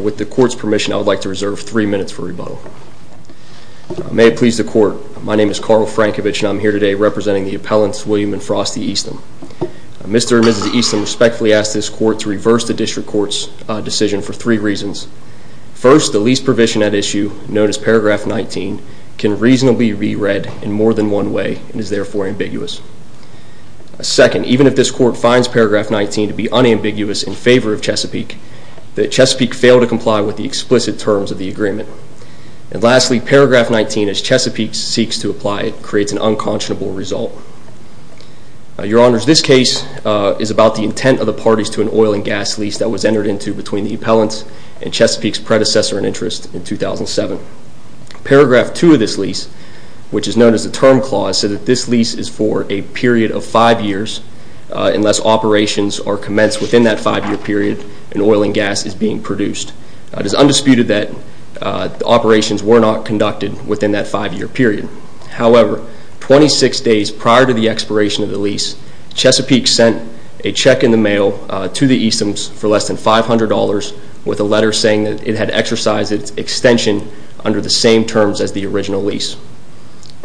with the court's permission I would like to reserve three minutes for rebuttal may please the court my name is Karl Frankovich and I'm here today representing the appellants William and Frosty Eastham. Mr. and Mrs. Eastham respectfully ask this court to reverse the district court's decision for three reasons. First the lease provision at issue known as paragraph 19 can reasonably be read in more than one way and is therefore ambiguous. Second even if this court finds paragraph 19 to be unambiguous in favor of Chesapeake that Chesapeake failed to comply with the explicit terms of the agreement. And lastly paragraph 19 as Chesapeake seeks to apply it creates an unconscionable result. Your honors this case is about the intent of the parties to an oil and gas lease that was entered into between the appellants and Chesapeake's predecessor in interest in 2007. Paragraph 2 of this lease which is known as the term clause said that this lease is for a period of five years unless operations are commenced within that five-year period and oil and gas is being produced. It is undisputed that operations were not conducted within that five-year period. However 26 days prior to the expiration of the lease Chesapeake sent a check in the mail to the Eastham's for less than $500 with a letter saying that it had exercised its extension under the same terms as the original lease.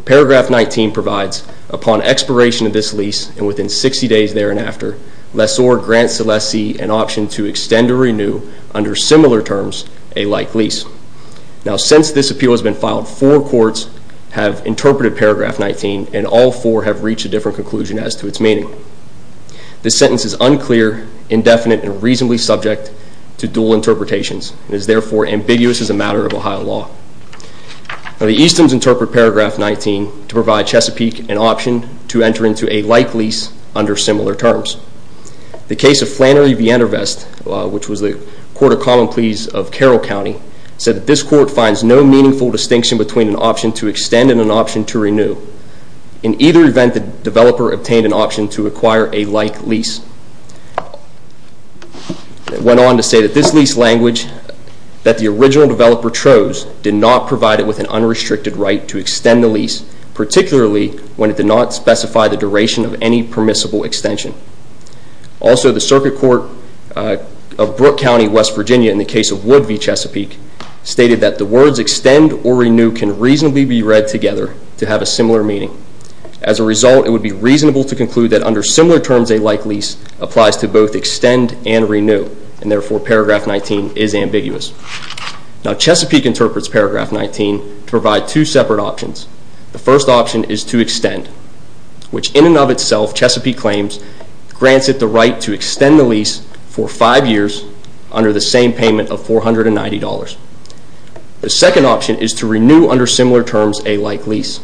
Paragraph 19 provides upon expiration of this lease and within 60 days there and after less or grant Celeste an option to extend or renew under similar terms a like lease. Now since this appeal has been filed four courts have interpreted paragraph 19 and all four have reached a different conclusion as to its meaning. This sentence is unclear indefinite and reasonably subject to dual interpretations and is therefore ambiguous as a matter of Ohio law. The Eastham's interpret paragraph 19 to provide Chesapeake an option to enter into a like lease under similar terms. The case of Flannery Viendervest which was the court of common pleas of Carroll County said that this court finds no meaningful distinction between an option to extend and an option to renew. In either event the developer obtained an option to acquire a like lease. It went on to say that this lease language that the original developer chose did not provide it with an unrestricted right to extend the lease particularly when it did not specify the duration of any permissible extension. Also the circuit court of Brooke County West Virginia in the case of Wood v. Chesapeake stated that the words extend or renew can reasonably be read together to have a similar meaning. As a result it would be reasonable to conclude that under similar terms a like lease applies to both extend and renew and therefore paragraph 19 is ambiguous. Now Chesapeake interprets paragraph 19 to provide two separate options. The first option is to extend which in of itself Chesapeake claims grants it the right to extend the lease for five years under the same payment of $490. The second option is to renew under similar terms a like lease.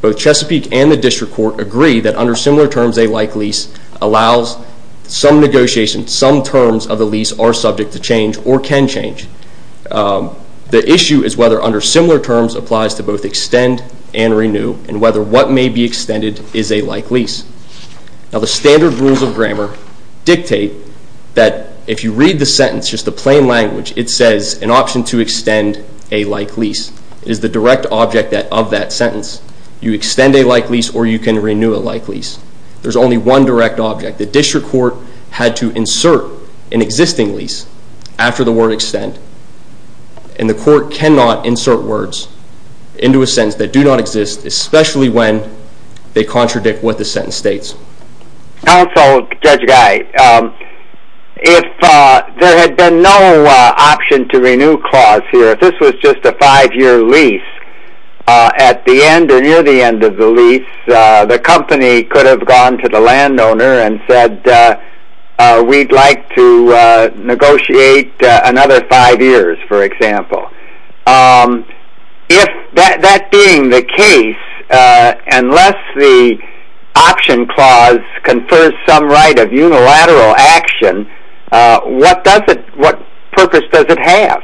Both Chesapeake and the district court agree that under similar terms a like lease allows some negotiation some terms of the lease are subject to change or can change. The issue is whether under similar terms applies to both extend and renew and whether what may be extended is a like lease. Now the standard rules of grammar dictate that if you read the sentence just the plain language it says an option to extend a like lease. It is the direct object of that sentence. You extend a like lease or you can renew a like lease. There's only one direct object. The district court had to insert an existing lease after the word extend and the court cannot insert words into a sentence that do not exist especially when they contradict what the sentence states. Also Judge Guy if there had been no option to renew clause here if this was just a five year lease at the end or near the end of the lease the company could have gone to the landowner and said we'd like to negotiate another five years for example. If that being the case unless the option clause confers some right of unilateral action what purpose does it have?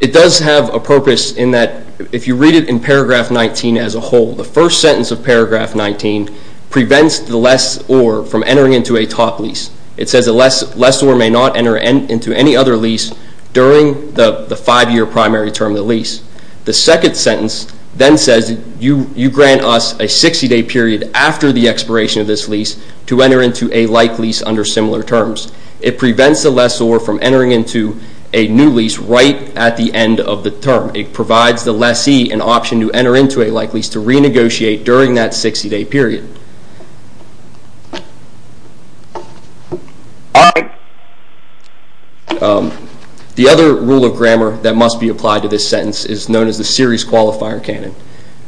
It does have a purpose in that if you read it in paragraph 19 as a whole the first sentence of paragraph 19 prevents the lessor from entering into a top lease. It says the lessor may not enter into any other lease during the five year primary term of the lease. The second sentence then says you grant us a 60 day period after the expiration of this lease to enter into a like lease under similar terms. It prevents the lessor from entering into a new lease right at the end of the term. It provides the lessee an option to enter into a like lease to renegotiate during that 60 day period. The other rule of grammar that must be applied to this sentence is known as the series qualifier canon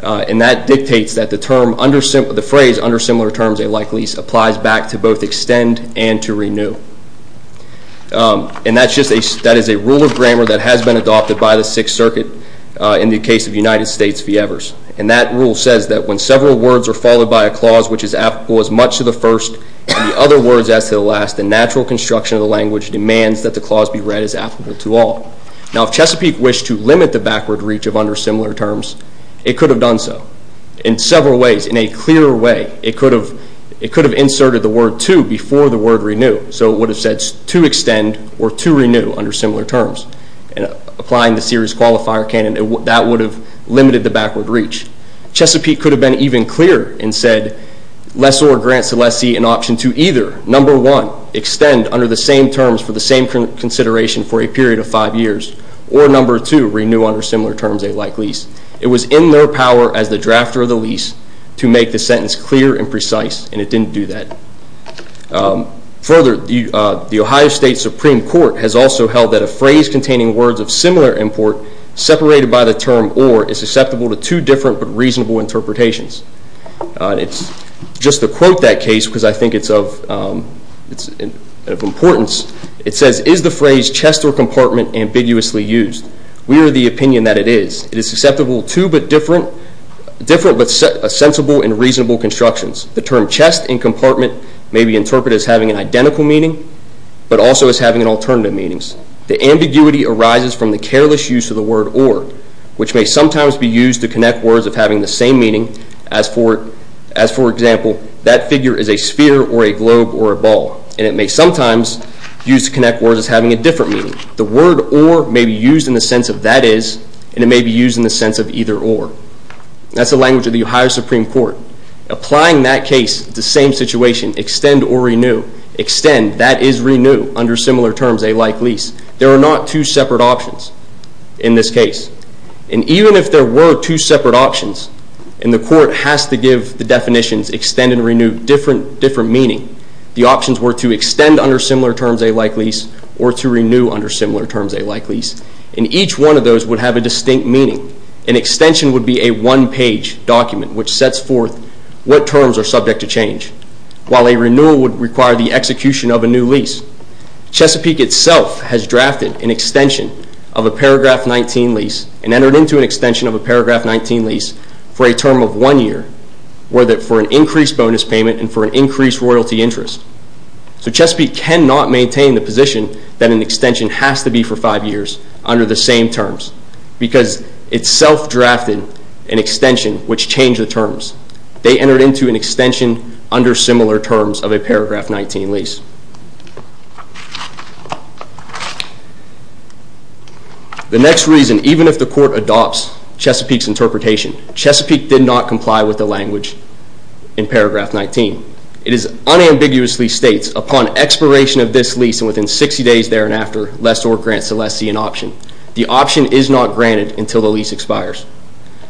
and that dictates that the term under the phrase under similar terms a like lease applies back to both extend and to renew. And that's just a rule of grammar that has been adopted by the Sixth Circuit in the case of United States v. Evers and that rule says that when several words are followed by a clause which is applicable as much to the first and the other words as to the last, the natural construction of the language demands that the clause be read as applicable to all. Now if Chesapeake wished to limit the backward reach of under similar terms, it could have done so in several ways. In a clearer way, it could have inserted the word to before the word renew. So it would have said to extend or to renew under similar terms. Applying the series qualifier canon, that would have limited the backward reach. Chesapeake could have been even clearer and said lessor grant lessee an option to either, number one, extend under the same terms for the same consideration for a period of five years or number two, renew under similar terms a like lease. It was in their power as the drafter of the lease to make the sentence clear and precise and it didn't do that. Further, the Ohio State Supreme Court has also held that a phrase containing words of similar import separated by the term or is susceptible to two different but reasonable interpretations. Just to quote that case because I think it's of importance, it says, is the phrase chest or compartment ambiguously used? We are the opinion that it is. It is susceptible to but different but sensible and reasonable constructions. The term chest and compartment may be interpreted as having an identical meaning but also as having an alternative meaning. The ambiguity arises from the careless use of the word or which may sometimes be used to connect words of having the same meaning as for example, that figure is a sphere or a globe or a ball. And it may sometimes be used to connect words as having a different meaning. The word or may be used in the sense of that is and it may be used in the sense of either or. That's the language of the Ohio Supreme Court. Applying that case, the same situation, extend or renew. Extend, that is renew under similar terms a like lease. There are not two separate options in this case. And even if there were two separate options and the court has to give the definitions extend and renew different meaning, the options were to extend under similar terms a like lease or to renew under similar terms a like lease. And each one of those would have a distinct meaning. An extension would be a one page document which sets forth what terms are subject to change. While a renewal would require the execution of a new lease. Chesapeake itself has drafted an extension of a paragraph 19 lease and entered into an extension of a paragraph 19 lease for a term of one year for an increased bonus payment and for an increased royalty interest. So Chesapeake cannot maintain the position that an extension has to be for five years under the same terms because it self-drafted an extension which changed the terms. They entered into an extension under similar terms of a paragraph 19 lease. The next reason, even if the court adopts Chesapeake's interpretation, Chesapeake did not comply with the language in paragraph 19. It is unambiguously states upon expiration of this lease and within 60 days there and after, less or grant Celestine an option. The option is not granted until the lease expires.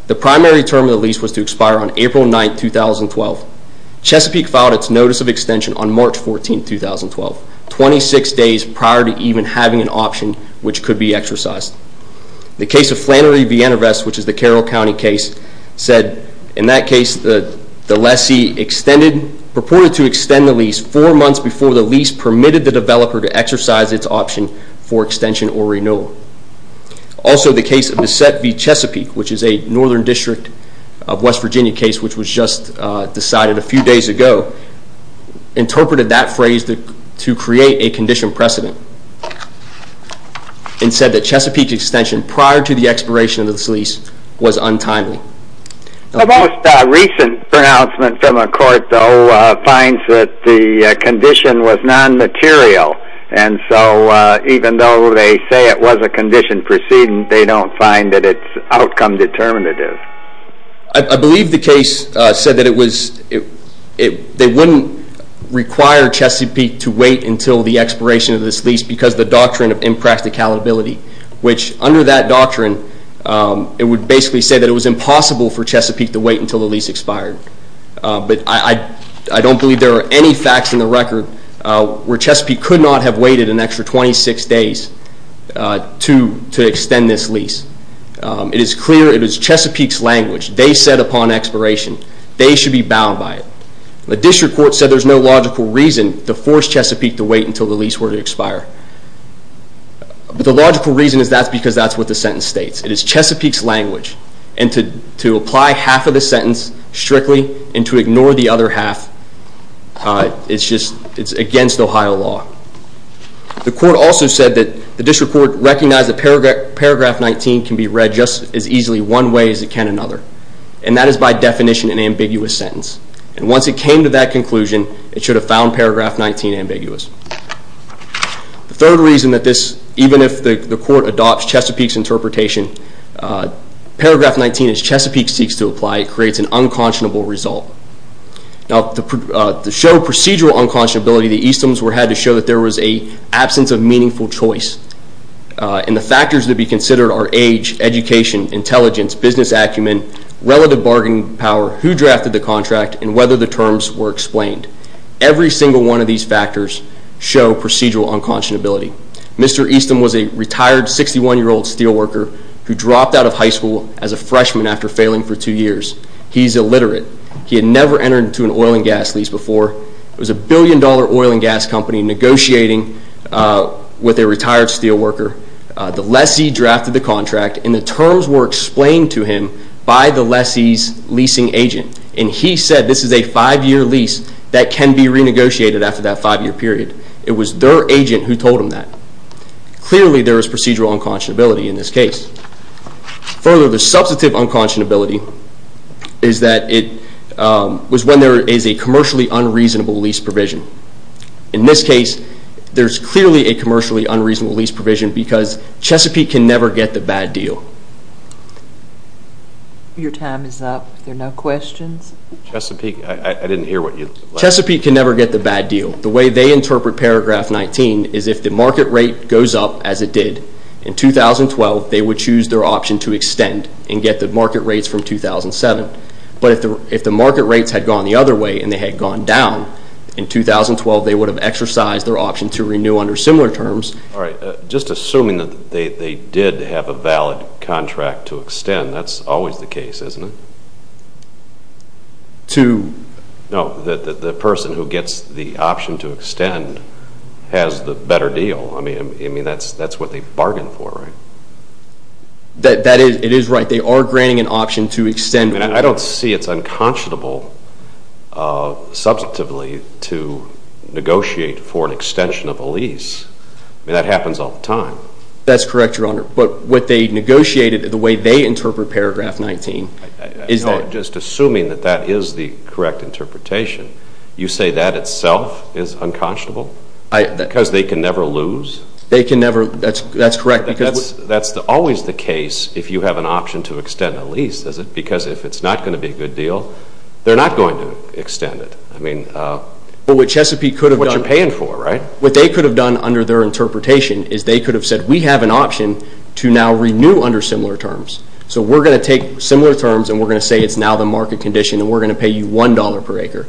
The primary term of the lease was to expire on April 9, 2012. Chesapeake filed its notice of extension on March 14, 2012. 26 days prior to even having an option which could be exercised. The case of Flannery-Vienna Vest which is the Carroll County case said in that case the lessee extended, purported to extend the lease four months before the lease permitted the developer to exercise its option for extension or renewal. Also the case of Bassett v. Chesapeake which is a northern district of West Virginia case which was just decided a few days ago, interpreted that phrase to create a condition precedent and said that Chesapeake's extension prior to the expiration of this lease was untimely. The most recent pronouncement from a court though finds that the condition was non-material and so even though they say it was a condition precedent they don't find that it's outcome determinative. I believe the case said that they wouldn't require Chesapeake to wait until the expiration of this lease because of the doctrine of impracticality which under that doctrine it would basically say that it was impossible for Chesapeake to wait until the lease expired. But I don't believe there are any facts in the record where Chesapeake could not have waited an extra 26 days to extend this lease. It is clear it is Chesapeake's language. They said upon expiration they should be bound by it. The district court said there's no logical reason to force Chesapeake to wait until the lease were to expire. The logical reason is that's because that's what the sentence states. It is Chesapeake's language. And to apply half of the sentence strictly and to ignore the other half, it's against Ohio law. The court also said that the district court recognized that paragraph 19 can be read just as easily one way as it can another. And that is by definition an ambiguous sentence. And once it came to that conclusion it should have found paragraph 19 ambiguous. The third reason that this, even if the court adopts Chesapeake's interpretation, paragraph 19 as Chesapeake seeks to apply it creates an unconscionable result. Now to show procedural unconscionability the Eastman's had to show that there was an absence of meaningful choice. And the factors to be considered are age, education, intelligence, business acumen, relative bargaining power, who drafted the contract, and whether the terms were explained. Every single one of these factors show procedural unconscionability. Mr. Eastman was a retired 61 year old steel worker who dropped out of high school as a freshman after failing for two years. He's illiterate. He had never entered into an oil and gas lease before. It was a billion dollar oil and gas company negotiating with a retired steel worker. The lessee drafted the contract and the terms were explained to him by the lessee's leasing agent. And he said this is a five year lease that can be renegotiated after that five year period. It was their agent who told him that. Clearly there is procedural unconscionability in this case. Further, the substantive unconscionability is that it was when there is a commercially unreasonable lease provision. In this case, there's clearly a commercially unreasonable lease provision because Chesapeake can never get the bad deal. Your time is up. Are there no questions? Chesapeake, I didn't hear what you said. Chesapeake can never get the bad deal. The way they interpret paragraph 19 is if the market rate goes up as it did, in 2012 they would choose their option to extend and get the market rates from 2007. But if the market rates had gone the other way and they had gone down, in 2012 they would have exercised their option to renew under similar terms. Just assuming that they did have a valid contract to extend, that's always the case, isn't it? No, the person who gets the option to extend has the better deal. I mean, that's what they bargained for, right? That is right. They are granting an option to extend. I don't see it's unconscionable substantively to negotiate for an extension of a lease. I mean, that happens all the time. That's correct, Your Honor. But what they negotiated, the way they interpret paragraph 19, is that... No, just assuming that that is the correct interpretation, you say that itself is unconscionable? Because they can never lose? They can never, that's correct, because... That's always the case if you have an option to extend a lease, is it? Because if it's not going to be a good deal, they're not going to extend it. I mean, what you're paying for, right? What they could have done under their interpretation is they could have said, we have an option to now renew under similar terms. So we're going to take similar terms and we're going to say it's now the market condition and we're going to pay you $1 per acre.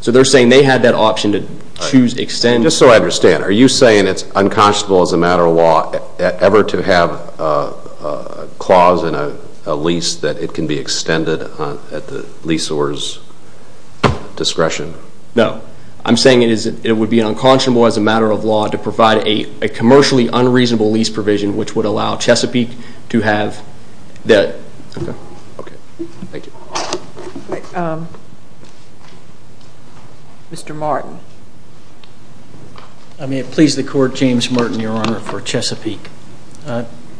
So they're saying they had that option to choose to extend... Just so I understand, are you saying it's unconscionable as a matter of law ever to have a clause in a lease that it can be extended at the leaseholder's discretion? No, I'm saying it would be unconscionable as a matter of law to provide a commercially unreasonable lease provision which would allow Chesapeake to have that... Mr. Martin. I may have pleased the court, James Martin, Your Honor, for Chesapeake.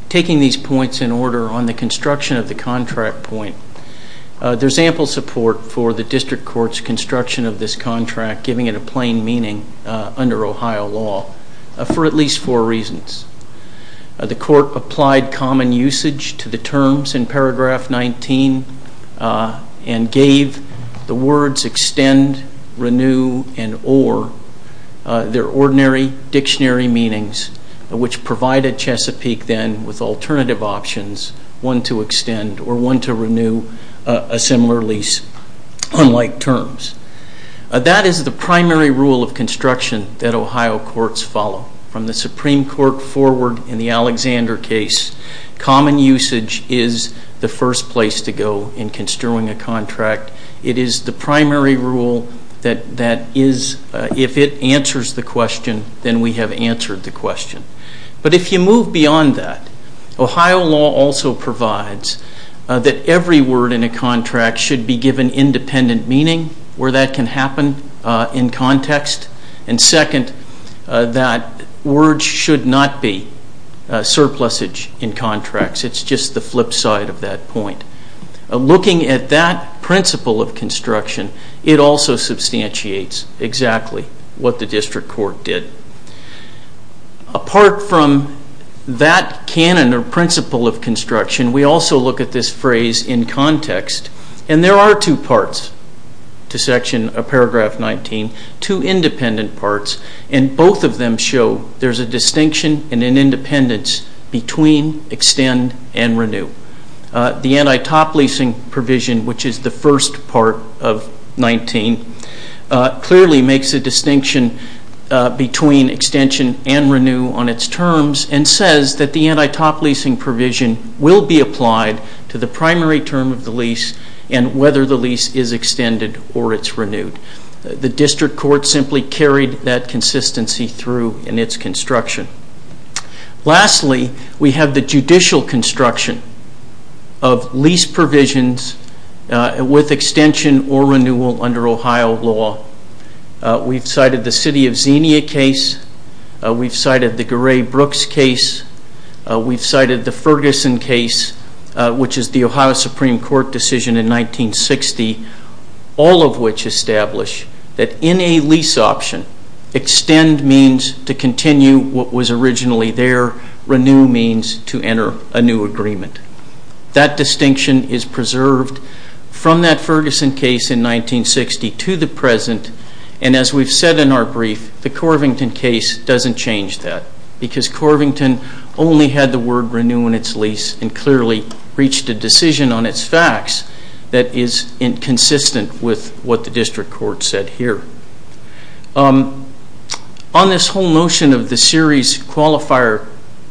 Taking these points in order on the construction of the contract point, there's ample support for the district court's construction of this contract giving it a plain meaning under Ohio law for at least four reasons. The court applied common usage to the terms in paragraph 19 and gave the words extend, renew, and or their ordinary dictionary meanings which provided Chesapeake then with alternative options, one to extend or one to renew a similar lease on like terms. That is the primary rule of construction that Ohio courts follow. From the Supreme Court forward in the Alexander case, common usage is the first place to go in construing a contract. It is the primary rule that if it answers the question, then we have answered the question. But if you move beyond that, Ohio law also provides that every word in a contract should be given independent meaning where that can happen in context and second, that words should not be surplusage in contracts. It's just the flip side of that point. Looking at that principle of construction, it also substantiates exactly what the district court did. Apart from that canon or principle of construction, we also look at this phrase in context. There are two parts to paragraph 19, two independent parts. Both of them show there's a distinction and an independence between extend and renew. The anti-top leasing provision which is the first part of 19 clearly makes a distinction between extension and renew on its terms and says that the anti-top leasing provision will be applied to the primary term of the lease and whether the lease is extended or it's renewed. The district court simply carried that consistency through in its construction. Lastly, we have the judicial construction of lease provisions with extension or renewal under Ohio law. We've cited the City of Xenia case. We've cited the Gray-Brooks case. We've cited the Ferguson case which is the Ohio Supreme Court decision in 1960, all of which establish that in a lease option, extend means to continue what was originally there. Renew means to enter a new agreement. That distinction is preserved from that Ferguson case in 1960 to the present and as we've said in our brief, the Corvington case doesn't change that because Corvington only had the word renew in its lease and clearly reached a decision on its facts that is inconsistent with what the district court said here. On this whole notion of the series qualifier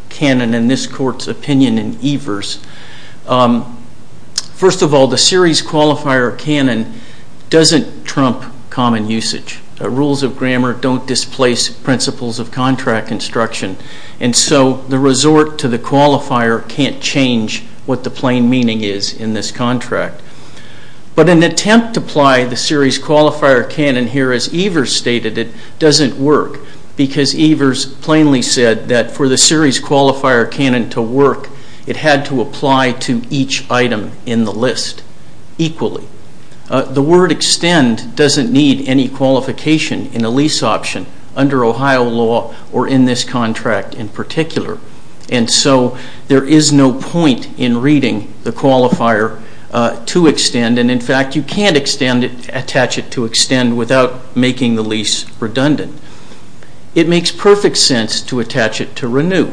canon and this court's opinion in Evers, first of all, the series qualifier canon doesn't trump common usage. Rules of grammar don't displace principles of contract instruction and so the resort to the qualifier can't change what the plain meaning is in this contract. But an attempt to apply the series qualifier canon here as Evers stated it doesn't work because Evers plainly said that for the series qualifier canon to work, it had to apply to each item in the list equally. The word extend doesn't need any qualification in a lease option under Ohio law or in this contract in particular and so there is no point in reading the qualifier to extend and in fact you can't attach it to extend without making the lease redundant. It makes perfect sense to attach it to renew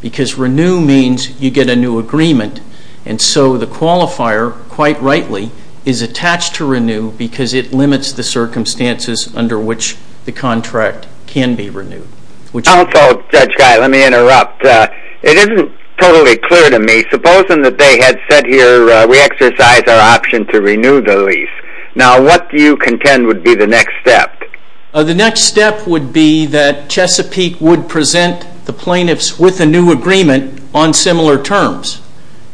because renew means you get a new agreement and so the qualifier quite rightly is attached to renew because it limits the circumstances under which the contract can be renewed. Also, Judge Guy, let me interrupt. It isn't totally clear to me. Supposing that they had said here we exercise our option to renew the lease. Now what do you contend would be the next step? The next step would be that Chesapeake would present the plaintiffs with a new agreement on similar terms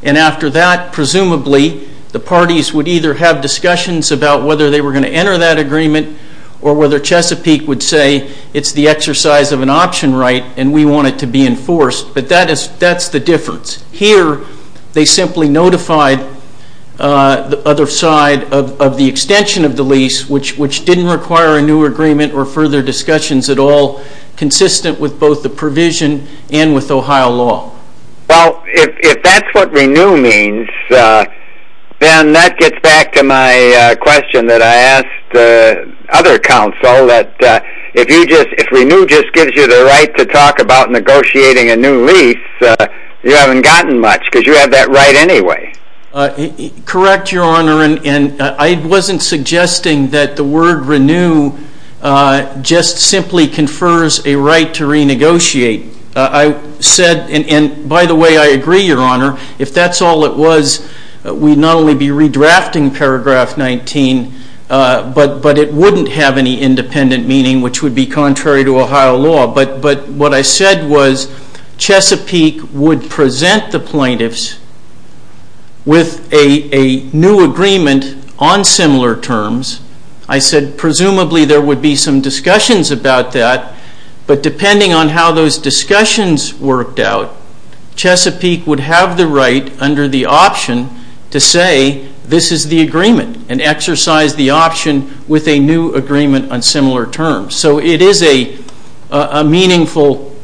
and after that presumably the parties would either have discussions about whether they were going to enter that agreement or whether Chesapeake would say it's the exercise of an option right and we want it to be enforced but that's the difference. Here they simply notified the other side of the extension of the lease which didn't require a new agreement or further discussions at all consistent with both the provision and with Ohio law. Well, if that's what renew means then that gets back to my question that I asked other counsel that if renew just gives you the right to talk about negotiating a new lease you haven't gotten much because you have that right anyway. Correct, Your Honor, and I wasn't suggesting that the word renew just simply confers a right to renegotiate. I said, and by the way I agree, Your Honor, if that's all it was we'd not only be redrafting paragraph 19 but it wouldn't have any independent meaning which would be contrary to Ohio law. But what I said was Chesapeake would present the plaintiffs with a new agreement on similar terms. I said presumably there would be some discussions about that but depending on how those discussions worked out Chesapeake would have the right under the option to say this is the agreement and exercise the option with a new agreement on similar terms. So it is a meaningful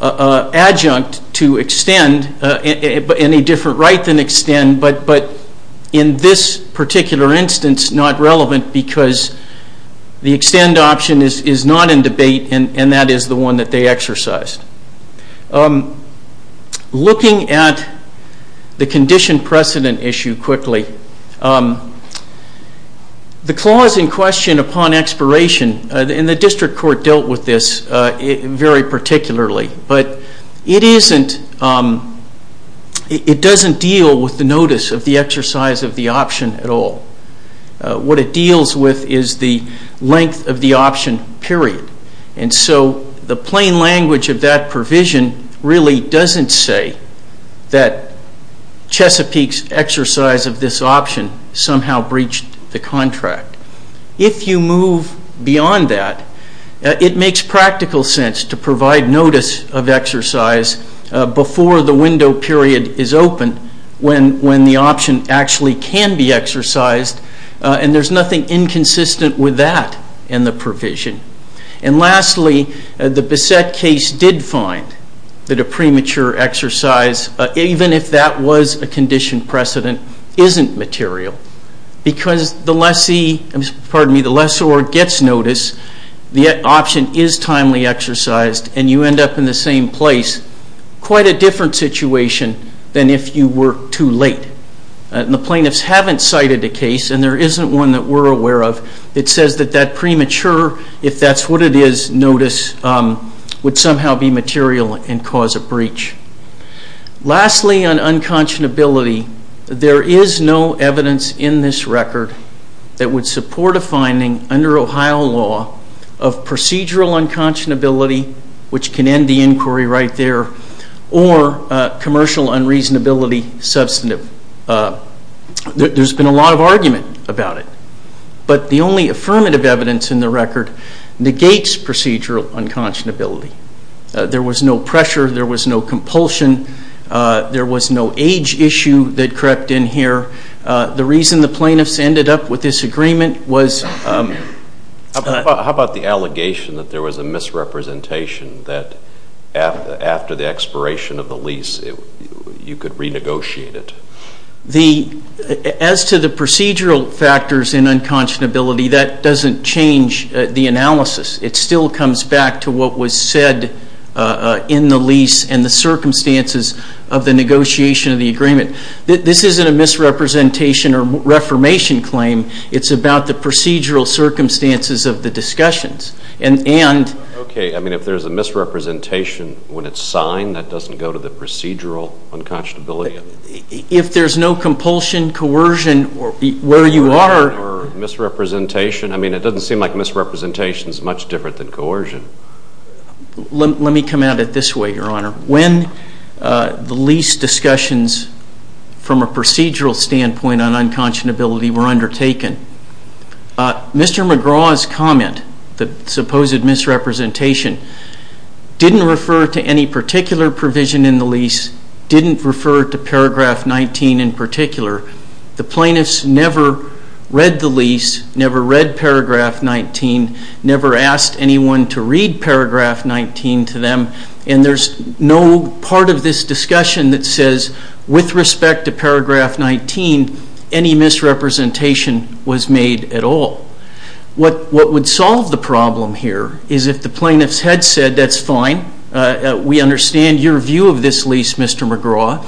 adjunct to extend in a different right than extend but in this particular instance not relevant because the extend option is not in debate and that is the one that they exercised. Looking at the condition precedent issue quickly, the clause in question upon expiration and the district court dealt with this very particularly but it doesn't deal with the notice of the exercise of the option at all. What it deals with is the length of the option period and so the plain language of that provision really doesn't say that Chesapeake's exercise of this option somehow breached the contract. If you move beyond that it makes practical sense to provide notice of exercise before the window period is open when the option actually can be exercised and there is nothing inconsistent with that in the provision. And lastly, the Bessette case did find that a premature exercise even if that was a condition precedent isn't material because the lessor gets notice, the option is timely exercised and you end up in the same place. Quite a different situation than if you were too late. The plaintiffs haven't cited a case and there isn't one that we're aware of that says that premature, if that's what it is, notice would somehow be material and cause a breach. Lastly, on unconscionability, there is no evidence in this record that would support a finding under Ohio law of procedural unconscionability which can end the inquiry right there or commercial unreasonability substantive. There's been a lot of argument about it but the only affirmative evidence in the record negates procedural unconscionability. There was no pressure, there was no compulsion, there was no age issue that crept in here. The reason the plaintiffs ended up with this agreement was... How about the allegation that there was a misrepresentation that after the expiration of the lease you could renegotiate it? As to the procedural factors in unconscionability, that doesn't change the analysis. It still comes back to what was said in the lease and the circumstances of the negotiation of the agreement. This isn't a misrepresentation or reformation claim. It's about the procedural circumstances of the discussions and... Okay, I mean if there's a misrepresentation when it's signed that doesn't go to the procedural unconscionability? If there's no compulsion, coercion, where you are... Or misrepresentation? I mean it doesn't seem like misrepresentation is much different than coercion. Let me come at it this way, Your Honor. When the lease discussions from a procedural standpoint on unconscionability were undertaken, Mr. McGraw's comment, the supposed misrepresentation, didn't refer to any particular provision in the lease, didn't refer to Paragraph 19 in particular. The plaintiffs never read the lease, never read Paragraph 19, never asked anyone to read Paragraph 19 to them, and there's no part of this discussion that says with respect to Paragraph 19 any misrepresentation was made at all. What would solve the problem here is if the plaintiffs had said that's fine, we understand your view of this lease, Mr. McGraw,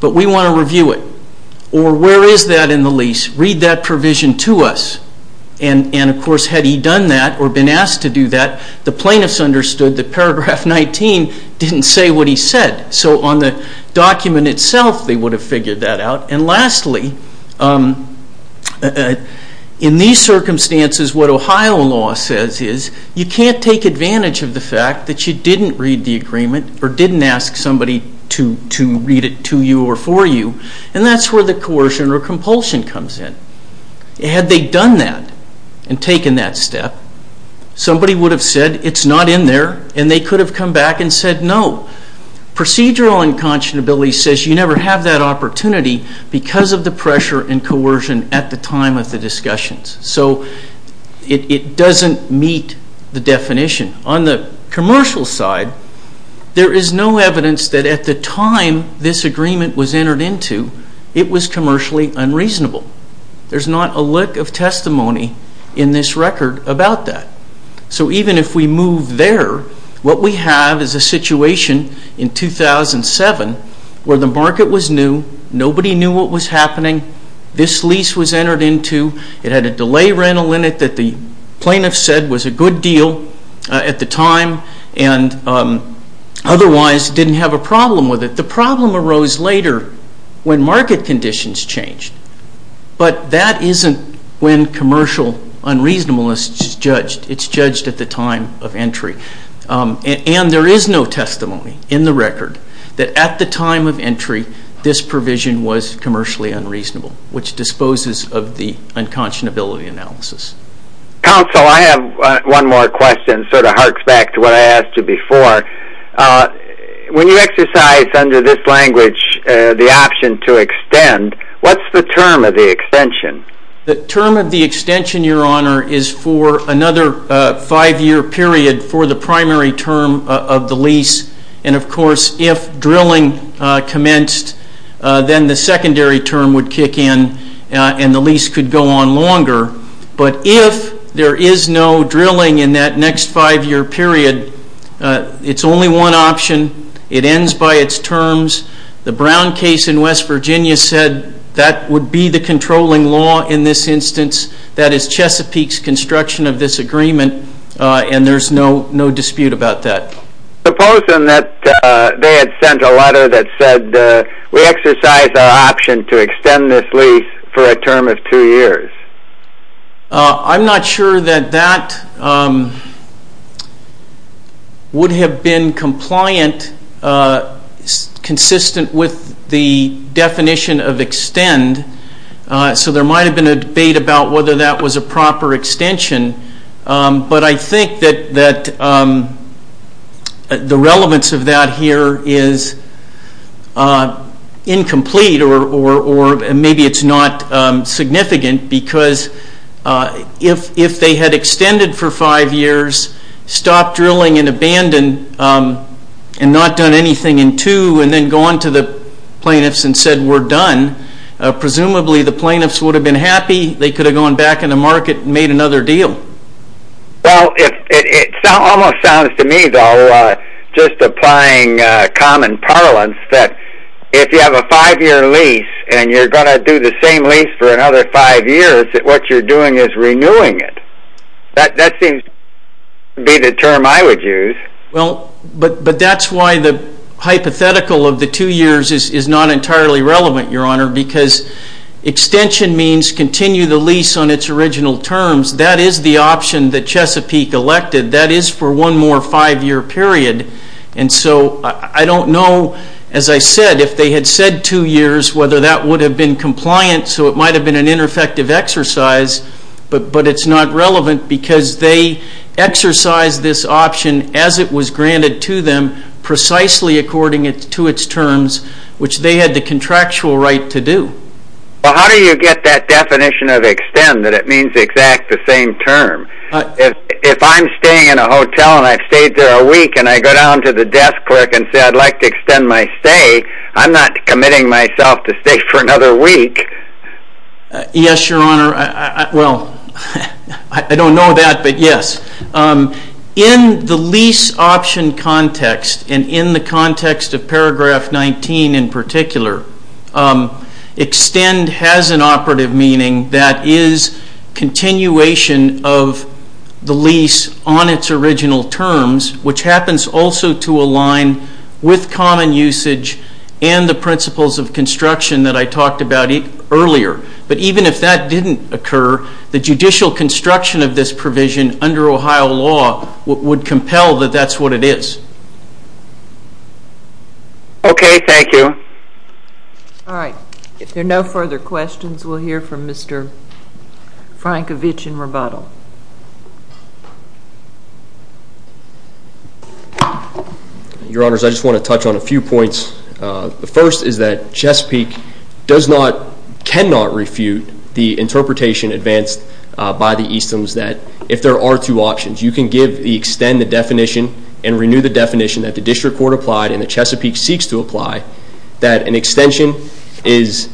but we want to review it. Or where is that in the lease? Read that provision to us. And of course had he done that or been asked to do that, the plaintiffs understood that Paragraph 19 didn't say what he said. So on the document itself they would have figured that out. And lastly, in these circumstances what Ohio law says is you can't take advantage of the fact that you didn't read the agreement or didn't ask somebody to read it to you or for you, and that's where the coercion or compulsion comes in. Had they done that and taken that step, somebody would have said it's not in there and they could have come back and said no. Procedural unconscionability says you never have that opportunity because of the pressure and coercion at the time of the discussions. So it doesn't meet the definition. On the commercial side, there is no evidence that at the time this agreement was entered into, it was commercially unreasonable. There's not a lick of testimony in this record about that. So even if we move there, what we have is a situation in 2007 this lease was entered into. It had a delay rental in it that the plaintiff said was a good deal at the time and otherwise didn't have a problem with it. The problem arose later when market conditions changed. But that isn't when commercial unreasonableness is judged. It's judged at the time of entry. And there is no testimony in the record that at the time of entry this provision was commercially unreasonable, which disposes of the unconscionability analysis. Counsel, I have one more question. It sort of harks back to what I asked you before. When you exercise under this language the option to extend, what's the term of the extension? The term of the extension, Your Honor, is for another five-year period for the primary term of the lease. And, of course, if drilling commenced, then the secondary term would kick in and the lease could go on longer. But if there is no drilling in that next five-year period, it's only one option. It ends by its terms. The Brown case in West Virginia said that would be the controlling law in this instance. That is Chesapeake's construction of this agreement and there's no dispute about that. Suppose then that they had sent a letter that said, we exercise our option to extend this lease for a term of two years. I'm not sure that that would have been compliant, consistent with the definition of extend. So there might have been a debate about whether that was a proper extension. But I think that the relevance of that here is incomplete or maybe it's not significant because if they had extended for five years, stopped drilling and abandoned and not done anything in two, and then gone to the plaintiffs and said, we're done, presumably the plaintiffs would have been happy. They could have gone back in the market and made another deal. Well, it almost sounds to me, though, just applying common parlance that if you have a five-year lease and you're going to do the same lease for another five years, that what you're doing is renewing it. That seems to be the term I would use. Well, but that's why the hypothetical of the two years is not entirely relevant, Your Honor, because extension means continue the lease on its original terms. That is the option that Chesapeake elected. That is for one more five-year period. And so I don't know, as I said, if they had said two years, whether that would have been compliant. So it might have been an ineffective exercise. But it's not relevant because they exercise this option as it was granted to them, precisely according to its terms, which they had the contractual right to do. Well, how do you get that definition of extend that it means the exact same term? If I'm staying in a hotel and I've stayed there a week and I go down to the desk and say, I'd like to extend my stay, I'm not committing myself to stay for another week. Yes, Your Honor. Well, I don't know that, but yes. In the lease option context and in the context of paragraph 19 in particular, extend has an operative meaning that is continuation of the lease on its original terms, which happens also to align with common usage and the principles of construction that I talked about earlier. But even if that didn't occur, the judicial construction of this provision under Ohio law would compel that that's what it is. Okay. Thank you. All right. If there are no further questions, we'll hear from Mr. Frankovich in rebuttal. Your Honors, I just want to touch on a few points. The first is that Chesapeake does not, cannot refute the interpretation advanced by the Eastman's that if there are two options, you can extend the definition and renew the definition that the District Court applied and the Chesapeake seeks to apply that an extension is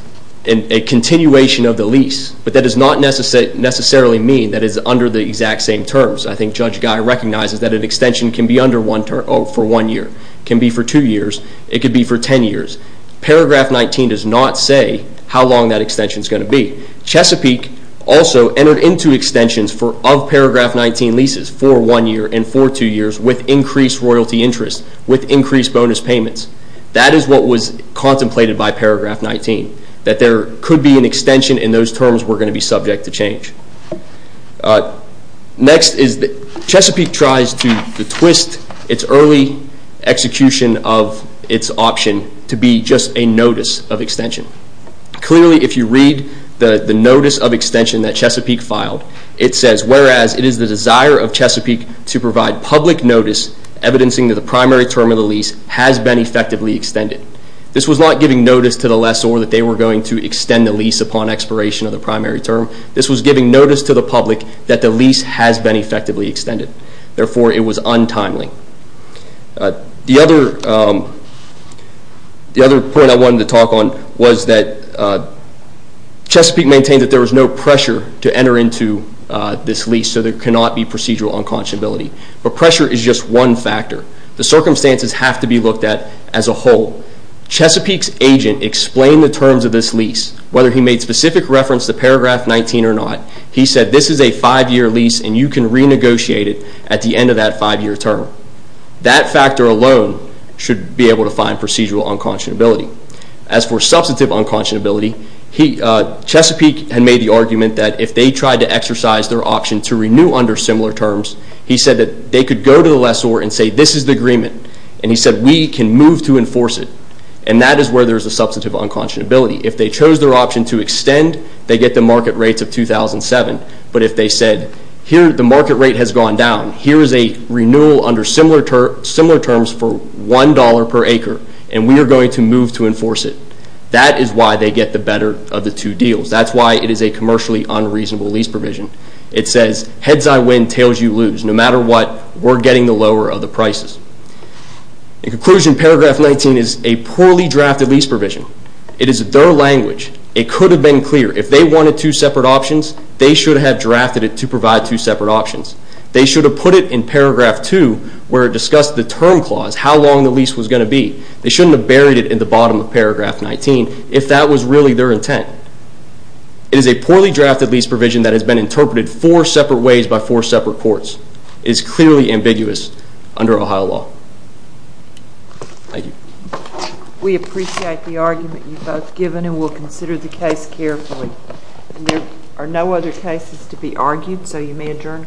a continuation of the lease, but that does not necessarily mean that it's under the exact same terms. I think Judge Guy recognizes that an extension can be under one term for one year, can be for two years, it could be for ten years. Paragraph 19 does not say how long that extension is going to be. Chesapeake also entered into extensions of Paragraph 19 leases for one year and for two years with increased royalty interest, with increased bonus payments. That is what was contemplated by Paragraph 19, that there could be an extension and those terms were going to be subject to change. Next is that Chesapeake tries to twist its early execution of its option to be just a notice of extension. Clearly if you read the notice of extension that Chesapeake filed, it says, whereas it is the desire of Chesapeake to provide public notice evidencing that the primary term of the lease has been effectively extended. This was not giving notice to the lessor that they were going to extend the lease upon expiration of the primary term. This was giving notice to the public that the lease has been effectively extended. Therefore, it was untimely. The other point I wanted to talk on was that Chesapeake maintained that there was no pressure to enter into this lease, so there cannot be procedural unconscionability. But pressure is just one factor. The circumstances have to be looked at as a whole. Chesapeake's agent explained the terms of this lease, whether he made specific reference to paragraph 19 or not. He said this is a five-year lease and you can renegotiate it at the end of that five-year term. That factor alone should be able to find procedural unconscionability. As for substantive unconscionability, Chesapeake had made the argument that if they tried to exercise their option to renew under similar terms, he said that they could go to the lessor and say this is the agreement. And he said we can move to enforce it. And that is where there is a substantive unconscionability. If they chose their option to extend, they get the market rates of 2007. But if they said here the market rate has gone down, here is a renewal under similar terms for $1 per acre, and we are going to move to enforce it. That is why they get the better of the two deals. That's why it is a commercially unreasonable lease provision. It says heads I win, tails you lose. No matter what, we're getting the lower of the prices. In conclusion, paragraph 19 is a poorly drafted lease provision. It is their language. It could have been clear. If they wanted two separate options, they should have drafted it to provide two separate options. They should have put it in paragraph 2, where it discussed the term clause, how long the lease was going to be. They shouldn't have buried it in the bottom of paragraph 19 if that was really their intent. It is a poorly drafted lease provision that has been interpreted four separate ways by four separate courts. It is clearly ambiguous under Ohio law. Thank you. We appreciate the argument you've both given and will consider the case carefully. There are no other cases to be argued, so you may adjourn court.